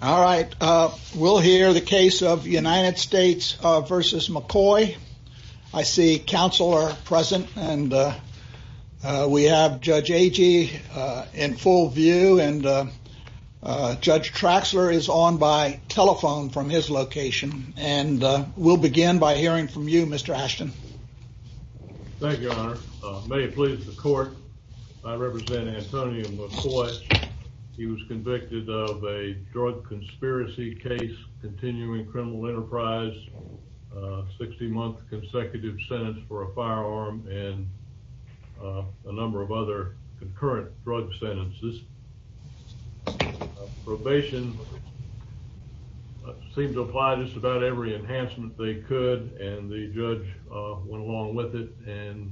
All right, we'll hear the case of United States v. McKoy. I see counsel are present and we have Judge Agee in full view and Judge Traxler is on by telephone from his location. And we'll begin by hearing from you, Mr. Ashton. Thank you, Your Honor. May it please the court, I represent Antonio McKoy. He was convicted of a drug conspiracy case, continuing criminal enterprise, 60-month consecutive sentence for a firearm and a number of other concurrent drug sentences. His probation seemed to apply just about every enhancement they could and the judge went along with it and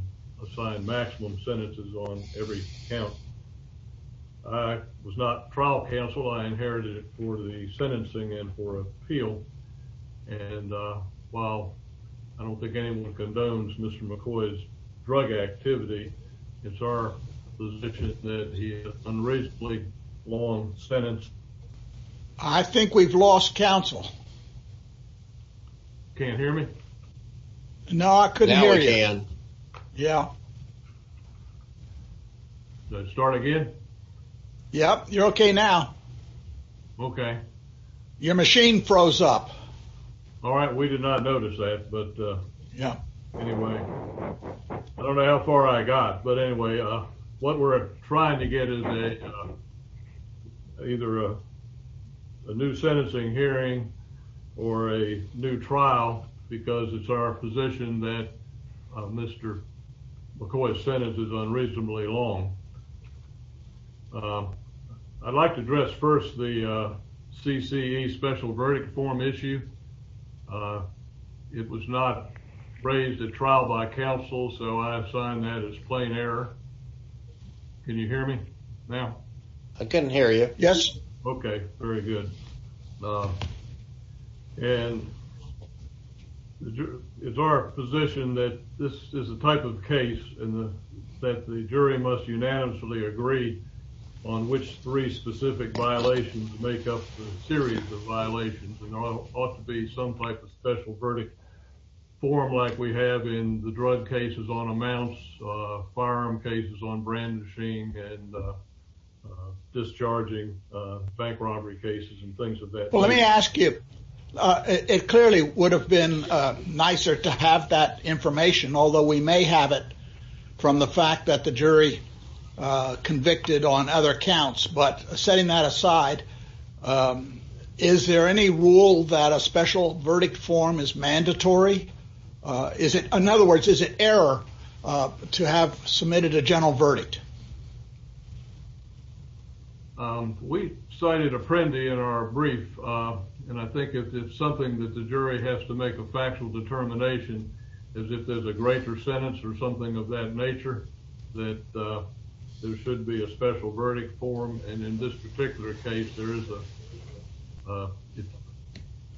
assigned maximum sentences on every count. I was not trial counsel. I inherited it for the sentencing and for appeal. And while I don't think anyone condones Mr. McKoy's drug activity, it's our position that he had an unreasonably long sentence. I think we've lost counsel. Can't hear me? No, I couldn't hear you. Now I can. Yeah. Did I start again? Yep, you're okay now. Okay. Your machine froze up. All right, we did not notice that. Yeah. Anyway, I don't know how far I got. But anyway, what we're trying to get is either a new sentencing hearing or a new trial because it's our position that Mr. McKoy's sentence is unreasonably long. I'd like to address first the CCE special verdict form issue. It was not raised at trial by counsel, so I've signed that as plain error. Can you hear me now? I couldn't hear you. Yes. Okay, very good. And it's our position that this is the type of case that the jury must unanimously agree on which three specific violations make up the series of violations. There ought to be some type of special verdict form like we have in the drug cases on amounts, firearm cases on brandishing and discharging, bank robbery cases and things of that nature. Let me ask you. It clearly would have been nicer to have that information, although we may have it from the fact that the jury convicted on other counts. But setting that aside, is there any rule that a special verdict form is mandatory? In other words, is it error to have submitted a general verdict? We cited Apprendi in our brief, and I think it's something that the jury has to make a factual determination is if there's a greater sentence or something of that nature, that there should be a special verdict form. And in this particular case, it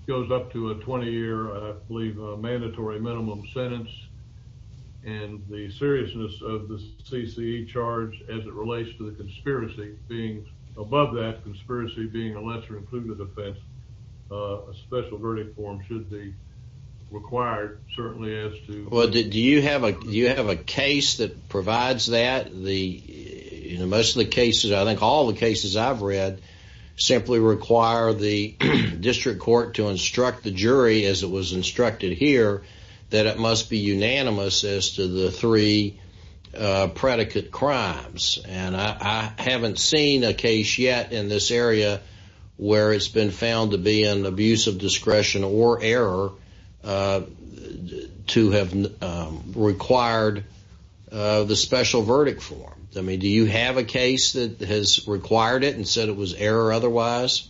goes up to a 20-year, I believe, mandatory minimum sentence. And the seriousness of the CCE charge as it relates to the conspiracy being above that conspiracy being a lesser-included offense, a special verdict form should be required, certainly as to… Well, do you have a case that provides that? Most of the cases, I think all the cases I've read, simply require the district court to instruct the jury, as it was instructed here, that it must be unanimous as to the three predicate crimes. And I haven't seen a case yet in this area where it's been found to be an abuse of discretion or error to have required the special verdict form. I mean, do you have a case that has required it and said it was error otherwise?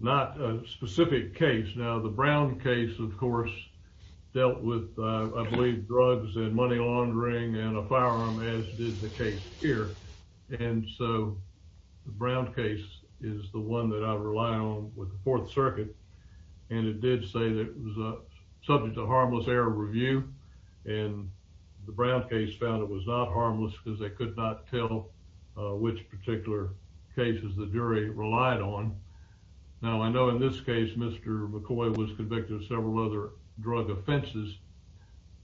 Not a specific case. Now, the Brown case, of course, dealt with, I believe, drugs and money laundering and a firearm, as did the case here. And so the Brown case is the one that I rely on with the Fourth Circuit, and it did say that it was subject to harmless error review. And the Brown case found it was not harmless because they could not tell which particular cases the jury relied on. Now, I know in this case, Mr. McCoy was convicted of several other drug offenses,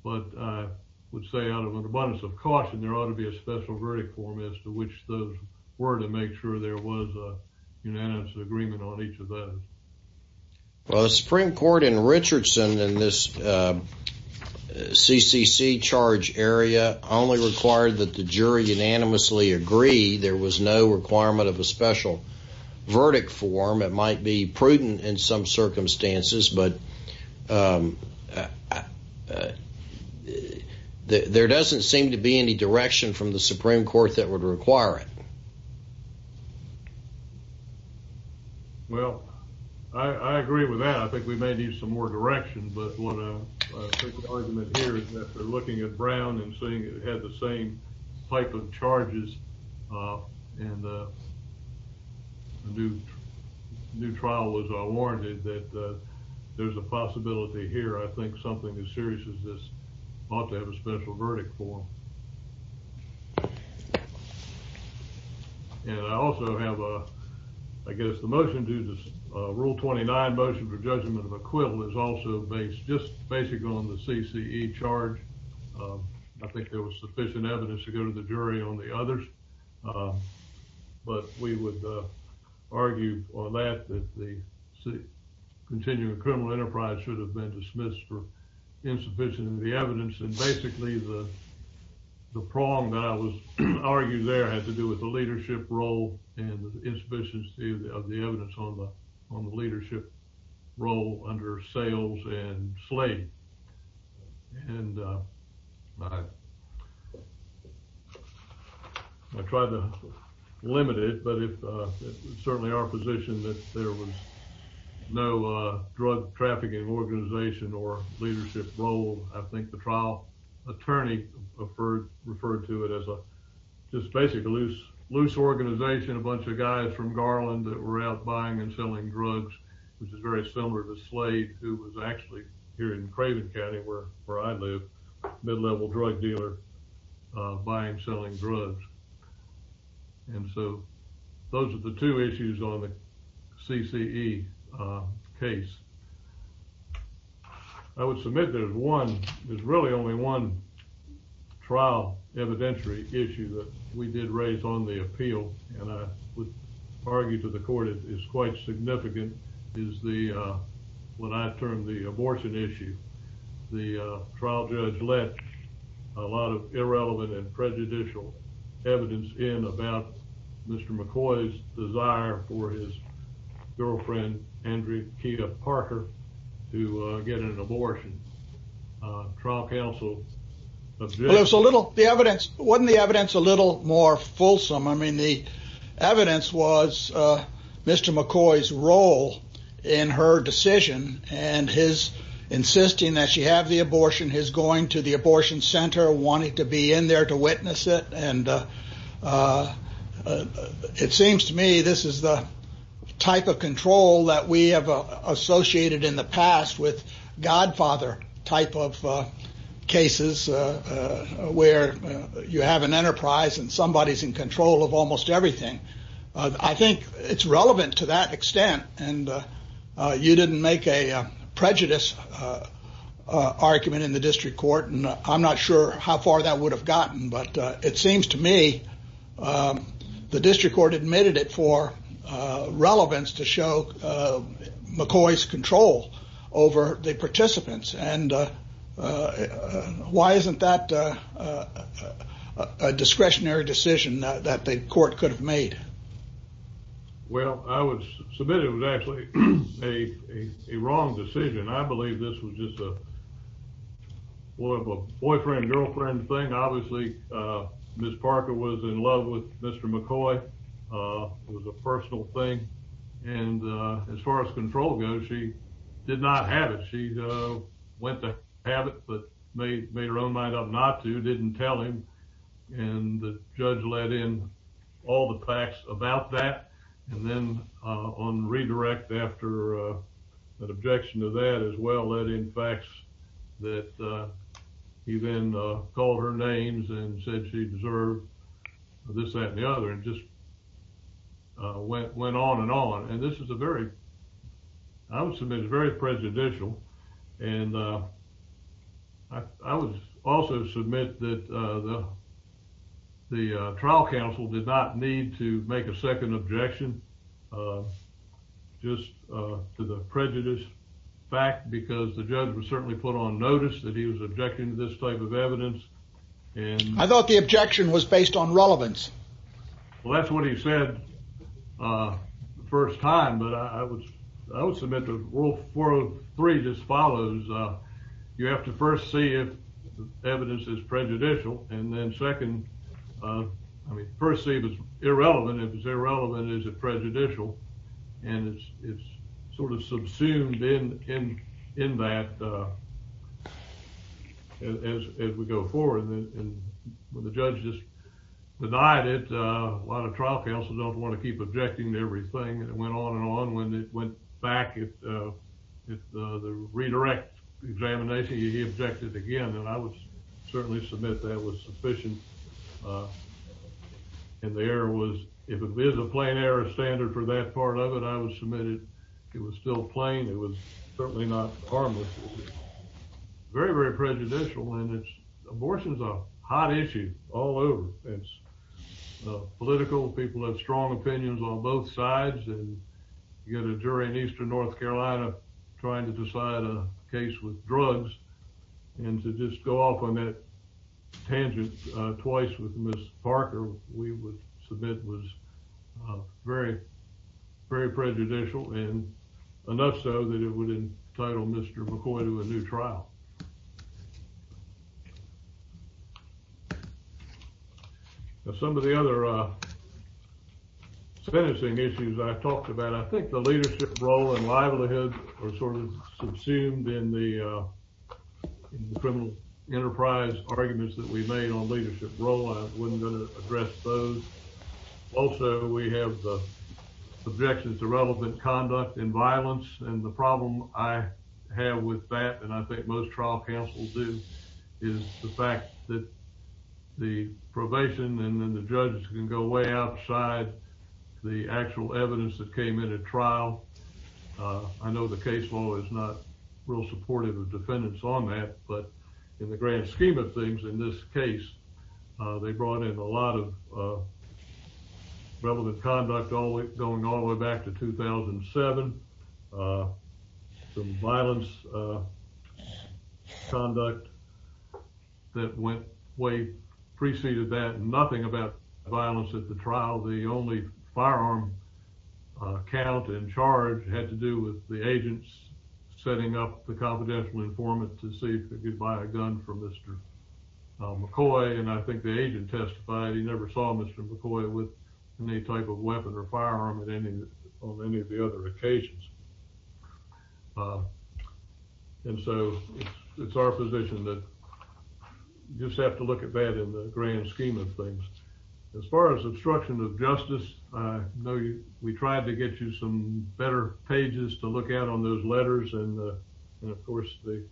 but I would say out of an abundance of caution, there ought to be a special verdict form as to which those were to make sure there was a unanimous agreement on each of those. Well, the Supreme Court in Richardson in this CCC charge area only required that the jury unanimously agree there was no requirement of a special verdict form. It might be prudent in some circumstances, but there doesn't seem to be any direction from the Supreme Court that would require it. Well, I agree with that. I think we may need some more direction, but what I think the argument here is that they're looking at Brown and seeing it had the same type of charges, and a new trial was warranted, that there's a possibility here I think something as serious as this ought to have a special verdict form. And I also have a, I guess the motion due to rule 29 motion for judgment of acquittal is also based just basically on the CCE charge. I think there was sufficient evidence to go to the jury on the others, but we would argue on that that the continuing criminal enterprise should have been dismissed for insufficient of the evidence. And basically the prong that I was arguing there had to do with the leadership role and the insufficiency of the evidence on the leadership role under sales and slave. And I tried to limit it, but it's certainly our position that there was no drug trafficking organization or leadership role. I think the trial attorney referred to it as just basically a loose organization, a bunch of guys from Garland that were out buying and selling drugs, which is very similar to Slade who was actually here in Craven County where I live, a mid-level drug dealer, buying and selling drugs. And so those are the two issues on the CCE case. I would submit there's one, there's really only one trial evidentiary issue that we did raise on the appeal and I would argue to the court it is quite significant. And that is the, what I term the abortion issue. The trial judge let a lot of irrelevant and prejudicial evidence in about Mr. McCoy's desire for his girlfriend Andrea Parker to get an abortion. The evidence, wasn't the evidence a little more fulsome? I mean, the evidence was Mr. McCoy's role in her decision and his insisting that she have the abortion, his going to the abortion center, wanting to be in there to witness it. And it seems to me this is the type of control that we have associated in the past with godfather type of cases where you have an enterprise and somebody's in control of almost everything. I think it's relevant to that extent and you didn't make a prejudice argument in the district court and I'm not sure how far that would have gotten but it seems to me the district court admitted it for relevance to show McCoy's control over the participants. And why isn't that a discretionary decision that the court could have made? Well, I would submit it was actually a wrong decision. I believe this was just a boyfriend girlfriend thing. Obviously, Ms. Parker was in love with Mr. McCoy. It was a personal thing and as far as control goes, she did not have it. She went to have it but made her own mind up not to, didn't tell him and the judge let in all the facts about that and then on redirect after an objection to that as well, let in facts that he then called her names and said she deserved this, that and the other and just went on and on. I would submit it's very prejudicial and I would also submit that the trial counsel did not need to make a second objection just to the prejudice fact because the judge would certainly put on notice that he was objecting to this type of evidence. I thought the objection was based on relevance. Well, that's what he said the first time but I would submit that Rule 403 just follows. You have to first see if the evidence is prejudicial and then second, I mean first see if it's irrelevant. If it's irrelevant, is it prejudicial and it's sort of subsumed in that as we go forward. When the judge just denied it, a lot of trial counsel don't want to keep objecting to everything and it went on and on. When it went back, the redirect examination, he objected again and I would certainly submit that was sufficient and the error was, if it is a plain error standard for that part of it, I would submit it was still plain. It was certainly not harmless. Very, very prejudicial and abortion is a hot issue all over. It's political. People have strong opinions on both sides and you got a jury in eastern North Carolina trying to decide a case with drugs and to just go off on that tangent twice with Ms. Parker, we would submit was very, very prejudicial and enough so that it would entitle Mr. McCoy to a new trial. Some of the other sentencing issues I talked about, I think the leadership role and livelihood are sort of subsumed in the criminal enterprise arguments that we made on leadership role. I wasn't going to address those. Also, we have objections to relevant conduct and violence and the problem I have with that, and I think most trial counsel do, is the fact that the probation and then the judge can go way outside the actual evidence that came in at trial. I know the case law is not real supportive of defendants on that, but in the grand scheme of things, in this case, they brought in a lot of relevant conduct going all the way back to 2007. Some violence conduct that went way preceded that. Nothing about violence at the trial. The only firearm count in charge had to do with the agents setting up the confidential informant to see if they could buy a gun for Mr. McCoy, and I think the agent testified he never saw Mr. McCoy with any type of weapon or firearm on any of the other occasions. And so, it's our position that you just have to look at that in the grand scheme of things. As far as obstruction of justice, I know we tried to get you some better pages to look at on those letters, and of course, the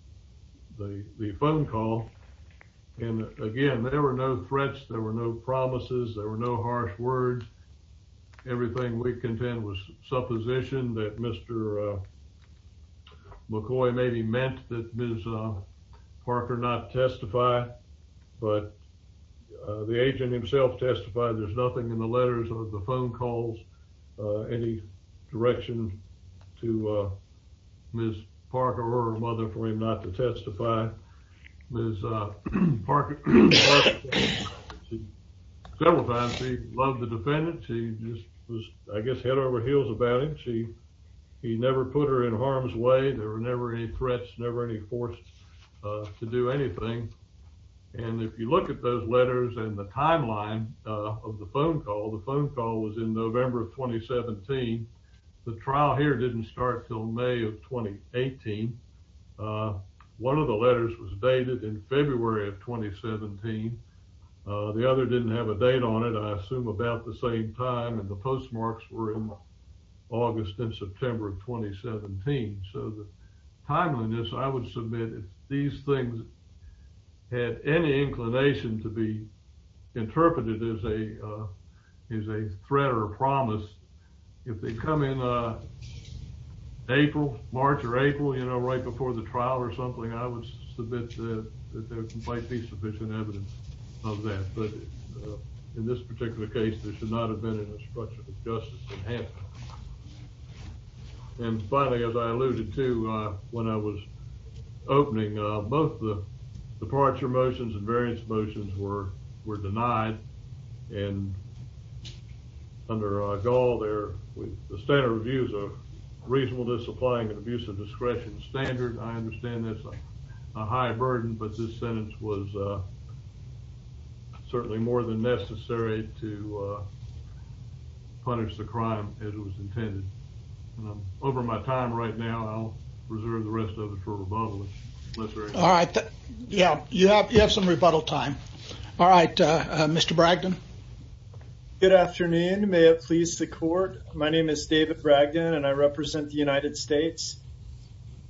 phone call, and again, there were no threats, there were no promises, there were no harsh words. Everything we contend was supposition that Mr. McCoy maybe meant that Ms. Parker not testify, but the agent himself testified there's nothing in the letters or the phone calls, any direction to Ms. Parker or her mother for him not to testify. Ms. Parker testified several times. She loved the defendant. She just was, I guess, head over heels about him. She never put her in harm's way. There were never any threats, never any force to do anything, and if you look at those letters and the timeline of the phone call, the phone call was in November of 2017. The trial here didn't start until May of 2018. One of the letters was dated in February of 2017. The other didn't have a date on it, I assume, about the same time, and the postmarks were in August and September of 2017, so the timeliness, I would submit, if these things had any inclination to be interpreted as a threat or a promise, if they come in April, March or April, you know, right before the trial or something, I would submit that there might be sufficient evidence of that, but in this particular case, there should not have been any structural injustice that happened. And finally, as I alluded to when I was opening, both the departure motions and variance motions were denied, and under Gaul, the standard review is a reasonable disappointment, abuse of discretion standard. I understand there's a high burden, but this sentence was certainly more than necessary to punish the crime as it was intended. Over my time right now, I'll reserve the rest of it for rebuttal, if necessary. All right. Yeah, you have some rebuttal time. All right, Mr. Bragdon. Good afternoon. May it please the court. My name is David Bragdon, and I represent the United States.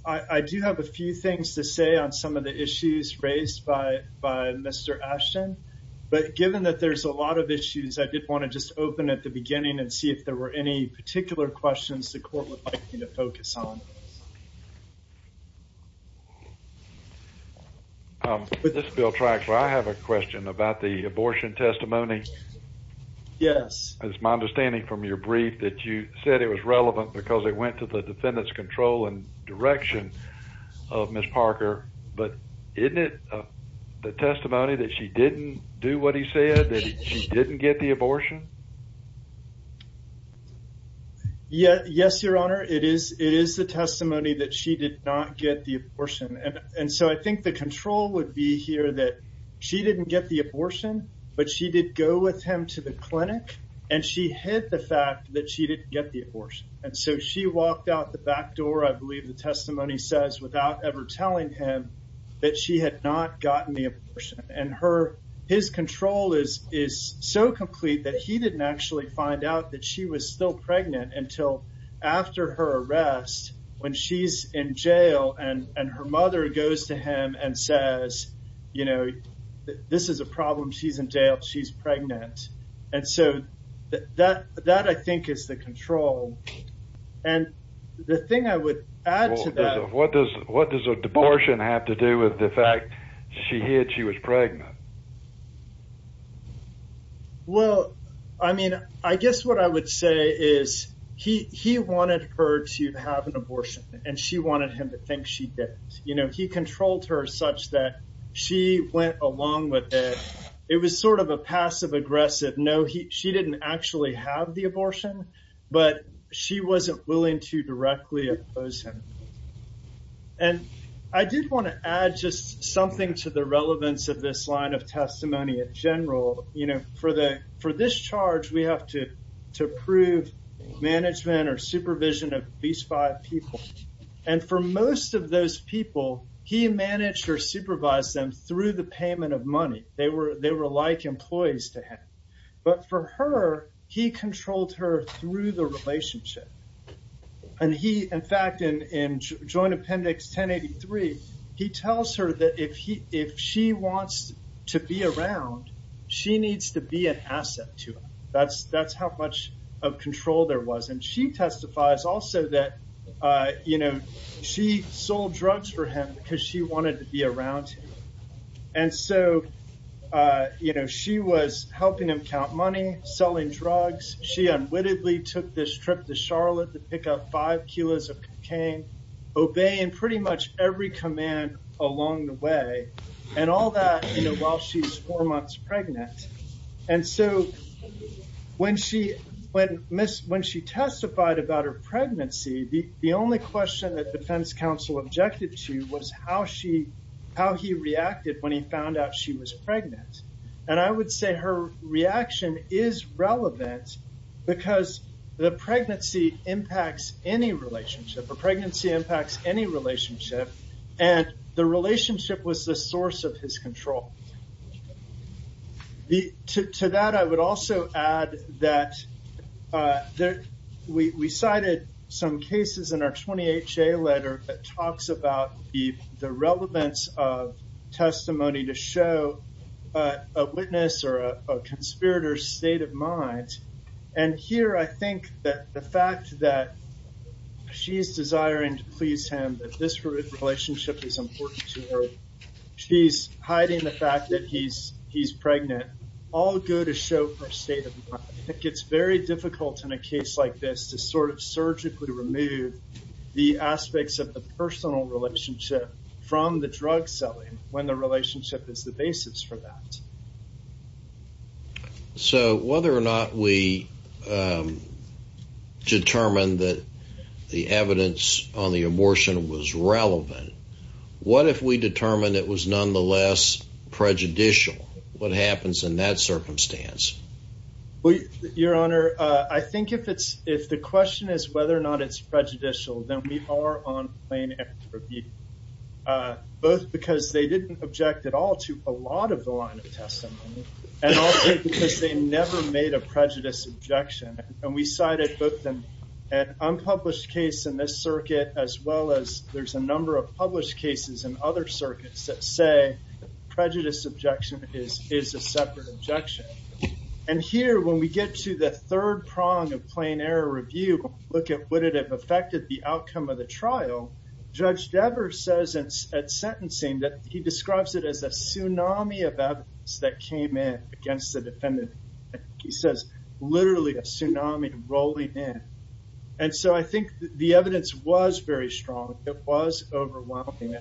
I do have a few things to say on some of the issues raised by Mr. Ashton. But given that there's a lot of issues, I did want to just open at the beginning and see if there were any particular questions the court would like me to focus on. This is Bill Trax. I have a question about the abortion testimony. Yes. It's my understanding from your brief that you said it was relevant because it went to the defendant's control and direction of Ms. Parker. But isn't it the testimony that she didn't do what he said, that she didn't get the abortion? Yes, Your Honor. It is the testimony that she did not get the abortion. And so I think the control would be here that she didn't get the abortion, but she did go with him to the clinic, and she hid the fact that she didn't get the abortion. And so she walked out the back door, I believe the testimony says, without ever telling him that she had not gotten the abortion. And his control is so complete that he didn't actually find out that she was still pregnant until after her arrest when she's in jail and her mother goes to him and says, you know, this is a problem. She's in jail. She's pregnant. And so that, I think, is the control. And the thing I would add to that... What does a abortion have to do with the fact she hid she was pregnant? Well, I mean, I guess what I would say is he wanted her to have an abortion, and she wanted him to think she didn't. You know, he controlled her such that she went along with it. It was sort of a passive-aggressive, no, she didn't actually have the abortion. But she wasn't willing to directly oppose him. And I did want to add just something to the relevance of this line of testimony in general. You know, for this charge, we have to approve management or supervision of these five people. And for most of those people, he managed or supervised them through the payment of money. They were like employees to him. But for her, he controlled her through the relationship. And he, in fact, in Joint Appendix 1083, he tells her that if she wants to be around, she needs to be an asset to him. That's how much of control there was. And she testifies also that, you know, she sold drugs for him because she wanted to be around him. And so, you know, she was helping him count money, selling drugs. She unwittingly took this trip to Charlotte to pick up five kilos of cocaine, obeying pretty much every command along the way. And all that, you know, while she's four months pregnant. And so when she testified about her pregnancy, the only question that defense counsel objected to was how he reacted when he found out she was pregnant. And I would say her reaction is relevant because the pregnancy impacts any relationship. And the relationship was the source of his control. To that, I would also add that we cited some cases in our 20HA letter that talks about the relevance of testimony to show a witness or a conspirator's state of mind. And here, I think that the fact that she's desiring to please him, that this relationship is important to her, she's hiding the fact that he's pregnant, all go to show her state of mind. It gets very difficult in a case like this to sort of surgically remove the aspects of the personal relationship from the drug selling when the relationship is the basis for that. So whether or not we determined that the evidence on the abortion was relevant, what if we determined it was nonetheless prejudicial? What happens in that circumstance? Well, Your Honor, I think if the question is whether or not it's prejudicial, then we are on plain equity. Both because they didn't object at all to a lot of the line of testimony, and also because they never made a prejudice objection. And we cited both an unpublished case in this circuit, as well as there's a number of published cases in other circuits that say prejudice objection is a separate objection. And here, when we get to the third prong of plain error review, look at would it have affected the outcome of the trial, Judge Devers says at sentencing that he describes it as a tsunami of evidence that came in against the defendant. He says, literally, a tsunami rolling in. And so I think the evidence was very strong. It was overwhelming.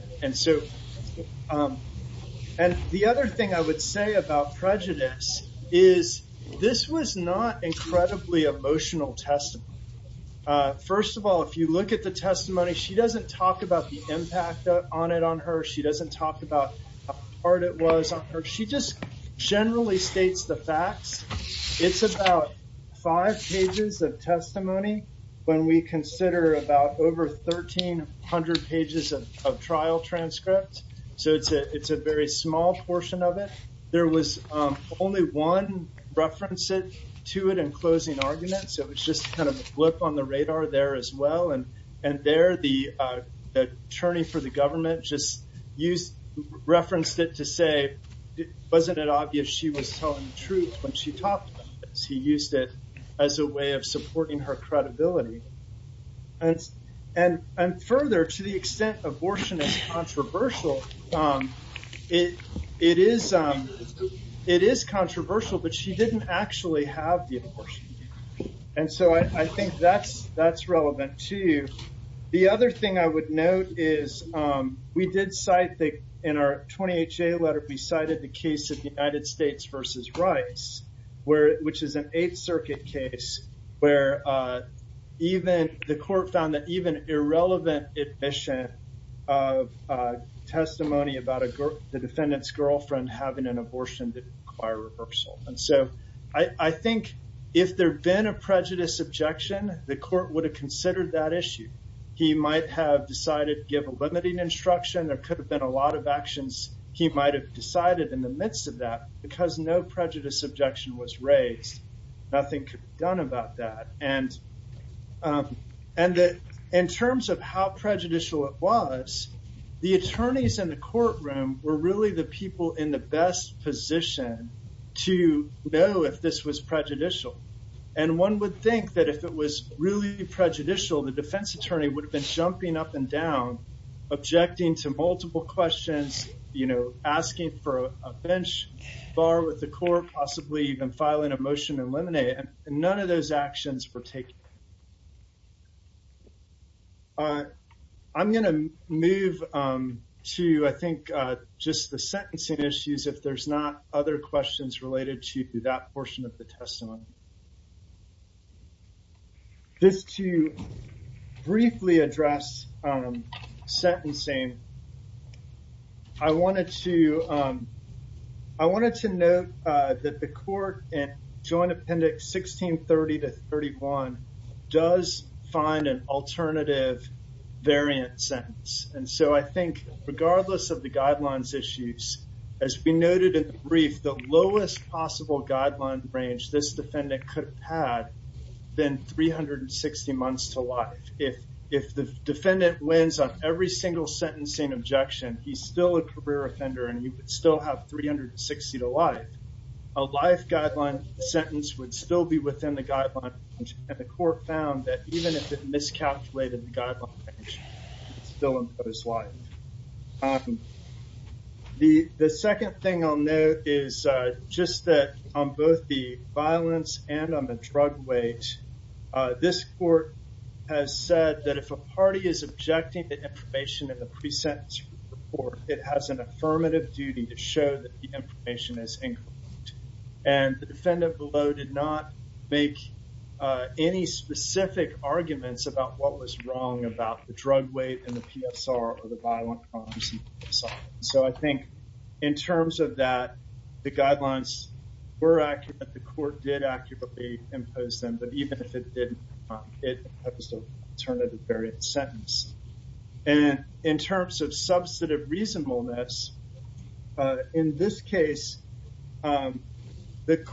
And the other thing I would say about prejudice is this was not incredibly emotional testimony. First of all, if you look at the testimony, she doesn't talk about the impact on it on her. She doesn't talk about how hard it was on her. She just generally states the facts. It's about five pages of testimony when we consider about over 1,300 pages of trial transcript. So it's a very small portion of it. There was only one reference to it in closing arguments. So it's just kind of a blip on the radar there as well. And there, the attorney for the government just referenced it to say, wasn't it obvious she was telling the truth when she talked about this? He used it as a way of supporting her credibility. And further, to the extent abortion is controversial, it is controversial, but she didn't actually have the abortion. And so I think that's relevant, too. The other thing I would note is we did cite, in our 20HA letter, we cited the case of the United States versus Rice, which is an Eighth Circuit case where the court found that even irrelevant admission of testimony about the defendant's girlfriend having an abortion didn't require reversal. And so I think if there had been a prejudice objection, the court would have considered that issue. He might have decided to give a limiting instruction. There could have been a lot of actions he might have decided in the midst of that. Because no prejudice objection was raised, nothing could be done about that. And in terms of how prejudicial it was, the attorneys in the courtroom were really the people in the best position to know if this was prejudicial. And one would think that if it was really prejudicial, the defense attorney would have been jumping up and down, objecting to multiple questions, asking for a bench, bar with the court, possibly even filing a motion to eliminate it. And none of those actions were taken. I'm going to move to, I think, just the sentencing issues, if there's not other questions related to that portion of the testimony. Just to briefly address sentencing, I wanted to note that the court in Joint Appendix 1630-31 does find an alternative variant sentence. And so I think, regardless of the guidelines issues, as we noted in the brief, the lowest possible guideline range this defendant could have had, then 360 months to life. If the defendant wins on every single sentencing objection, he's still a career offender and he would still have 360 to life. A life guideline sentence would still be within the guideline range, and the court found that even if it miscalculated the guideline range, it still imposed life. The second thing I'll note is just that on both the violence and on the drug weight, this court has said that if a party is objecting to information in the pre-sentence report, it has an affirmative duty to show that the information is incorrect. And the defendant below did not make any specific arguments about what was wrong about the drug weight and the PSR or the violent crimes. So I think, in terms of that, the guidelines were accurate, the court did accurately impose them, but even if it didn't, it was an alternative variant sentence. And in terms of substantive reasonableness, in this case, one of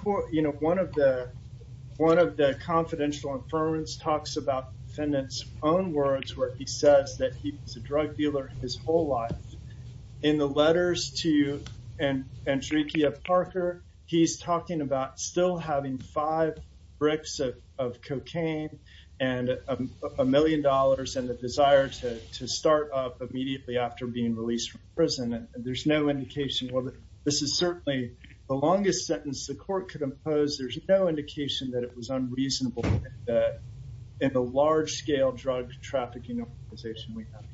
the confidential affirmants talks about the defendant's own words where he says that he was a drug dealer his whole life. In the letters to Andreeke of Parker, he's talking about still having five bricks of cocaine and a million dollars and the desire to start up immediately after being released from prison. And there's no indication, well, this is certainly the longest sentence the court could impose. There's no indication that it was unreasonable in the large-scale drug trafficking organization we have.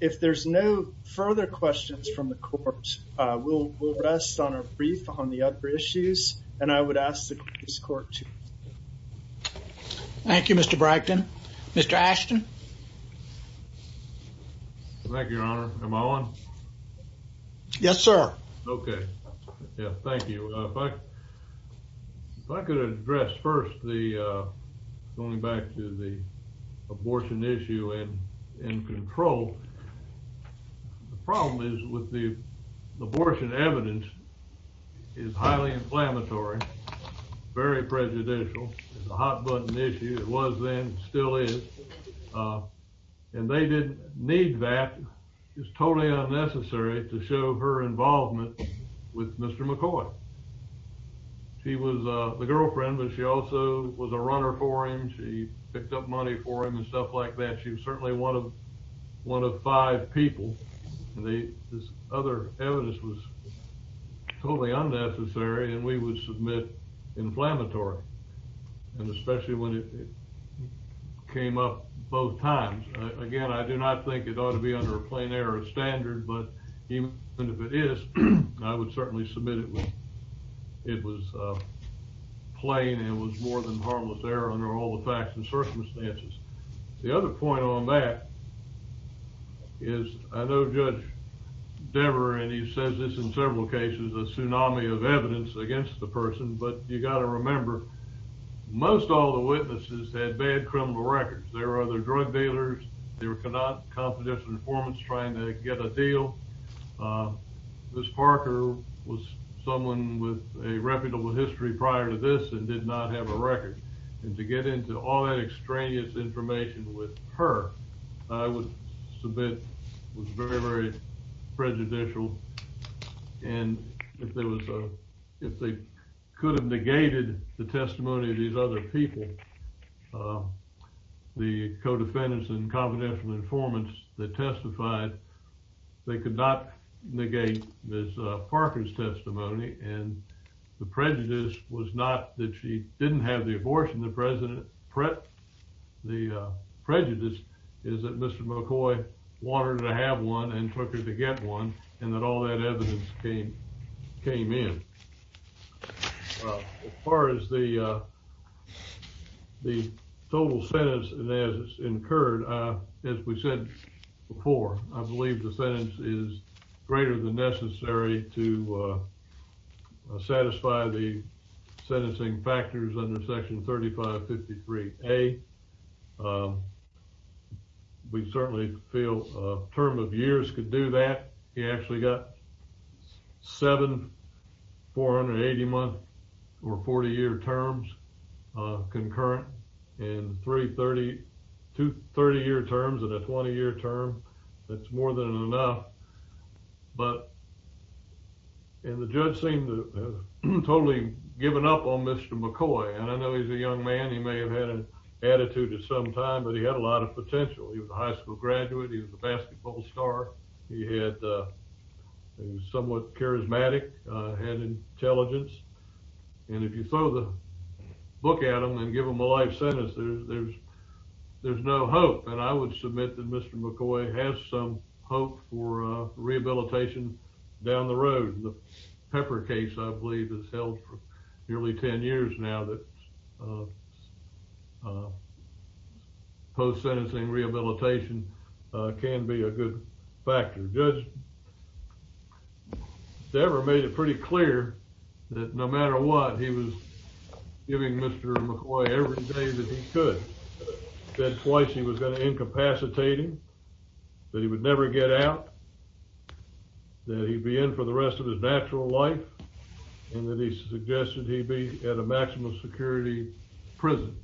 If there's no further questions from the court, we'll rest on a brief on the other issues, and I would ask that this court to... Thank you, Mr. Bragdon. Mr. Ashton? Thank you, Your Honor. Am I on? Yes, sir. Okay. Yeah, thank you. If I could address first the, going back to the abortion issue in control, the problem is with the abortion evidence is highly inflammatory, very prejudicial. It's a hot-button issue. It was then, still is. And they didn't need that. It was totally unnecessary to show her involvement with Mr. McCoy. She was the girlfriend, but she also was a runner for him. She picked up money for him and stuff like that. She was certainly one of five people. This other evidence was totally unnecessary, and we would submit inflammatory. And especially when it came up both times. Again, I do not think it ought to be under a plain error standard, but even if it is, I would certainly submit it was plain and was more than harmless error under all the facts and circumstances. The other point on that is, I know Judge Dever, and he says this in several cases, a tsunami of evidence against the person, but you've got to remember, most all the witnesses had bad criminal records. There were other drug dealers. There were confidential informants trying to get a deal. Ms. Parker was someone with a reputable history prior to this and did not have a record. And to get into all that extraneous information with her, I would submit, was very, very prejudicial. And if there was a, if they could have negated the testimony of these other people, the co-defendants and confidential informants that testified, they could not negate Ms. Parker's testimony. And the prejudice was not that she didn't have the abortion. The prejudice is that Mr. McCoy wanted to have one and took her to get one and that all that evidence came in. As far as the total sentence as incurred, as we said before, I believe the sentence is greater than necessary to satisfy the sentencing factors under section 3553A. We certainly feel a term of years could do that. You actually got seven 480-month or 40-year terms concurrent and three 30, two 30-year terms and a 20-year term. That's more than enough. But, and the judge seemed to have totally given up on Mr. McCoy. And I know he's a young man. He may have had an attitude at some time, but he had a lot of potential. He was a high school graduate. He was a basketball star. He had, he was somewhat charismatic, had intelligence. And if you throw the book at him and give him a life sentence, there's, there's, there's no hope. And I would submit that Mr. McCoy has some hope for rehabilitation down the road. The Pepper case, I believe, has held for nearly 10 years now that post-sentencing rehabilitation can be a good factor. Judge Dever made it pretty clear that no matter what he was giving Mr. McCoy every day that he could. Said twice he was going to incapacitate him, that he would never get out, that he'd be in for the rest of his natural life, and that he suggested he be at a maximum security prison.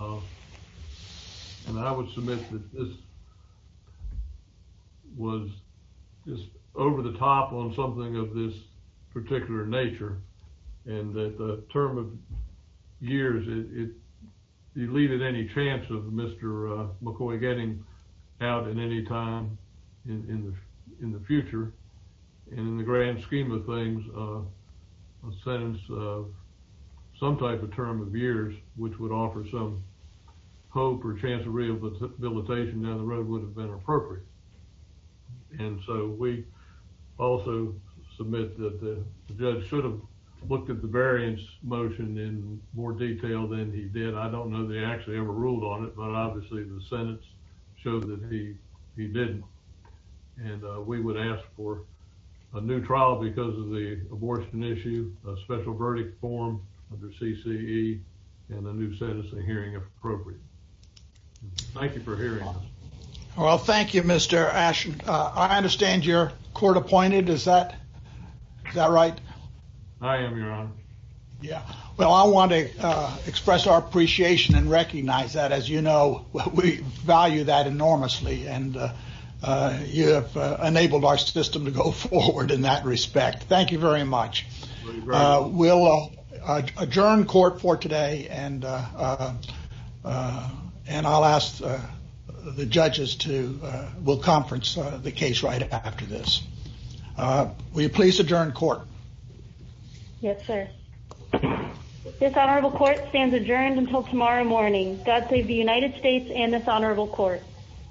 And I would submit that this was just over the top on something of this particular nature. And that the term of years, it deleted any chance of Mr. McCoy getting out at any time in the future. And in the grand scheme of things, a sentence of some type of term of years, which would offer some hope or chance of rehabilitation down the road would have been appropriate. And so we also submit that the judge should have looked at the variance motion in more detail than he did. I don't know they actually ever ruled on it, but obviously the sentence showed that he, he didn't. And we would ask for a new trial because of the abortion issue, a special verdict form under CCE, and a new sentencing hearing if appropriate. Thank you for hearing us. Well, thank you, Mr. Ashen. I understand you're court appointed, is that right? I am, Your Honor. Yeah. Well, I want to express our appreciation and recognize that, as you know, we value that enormously. And you have enabled our system to go forward in that respect. Thank you very much. We'll adjourn court for today, and I'll ask the judges to, we'll conference the case right after this. Will you please adjourn court? Yes, sir. This honorable court stands adjourned until tomorrow morning. God save the United States and this honorable court.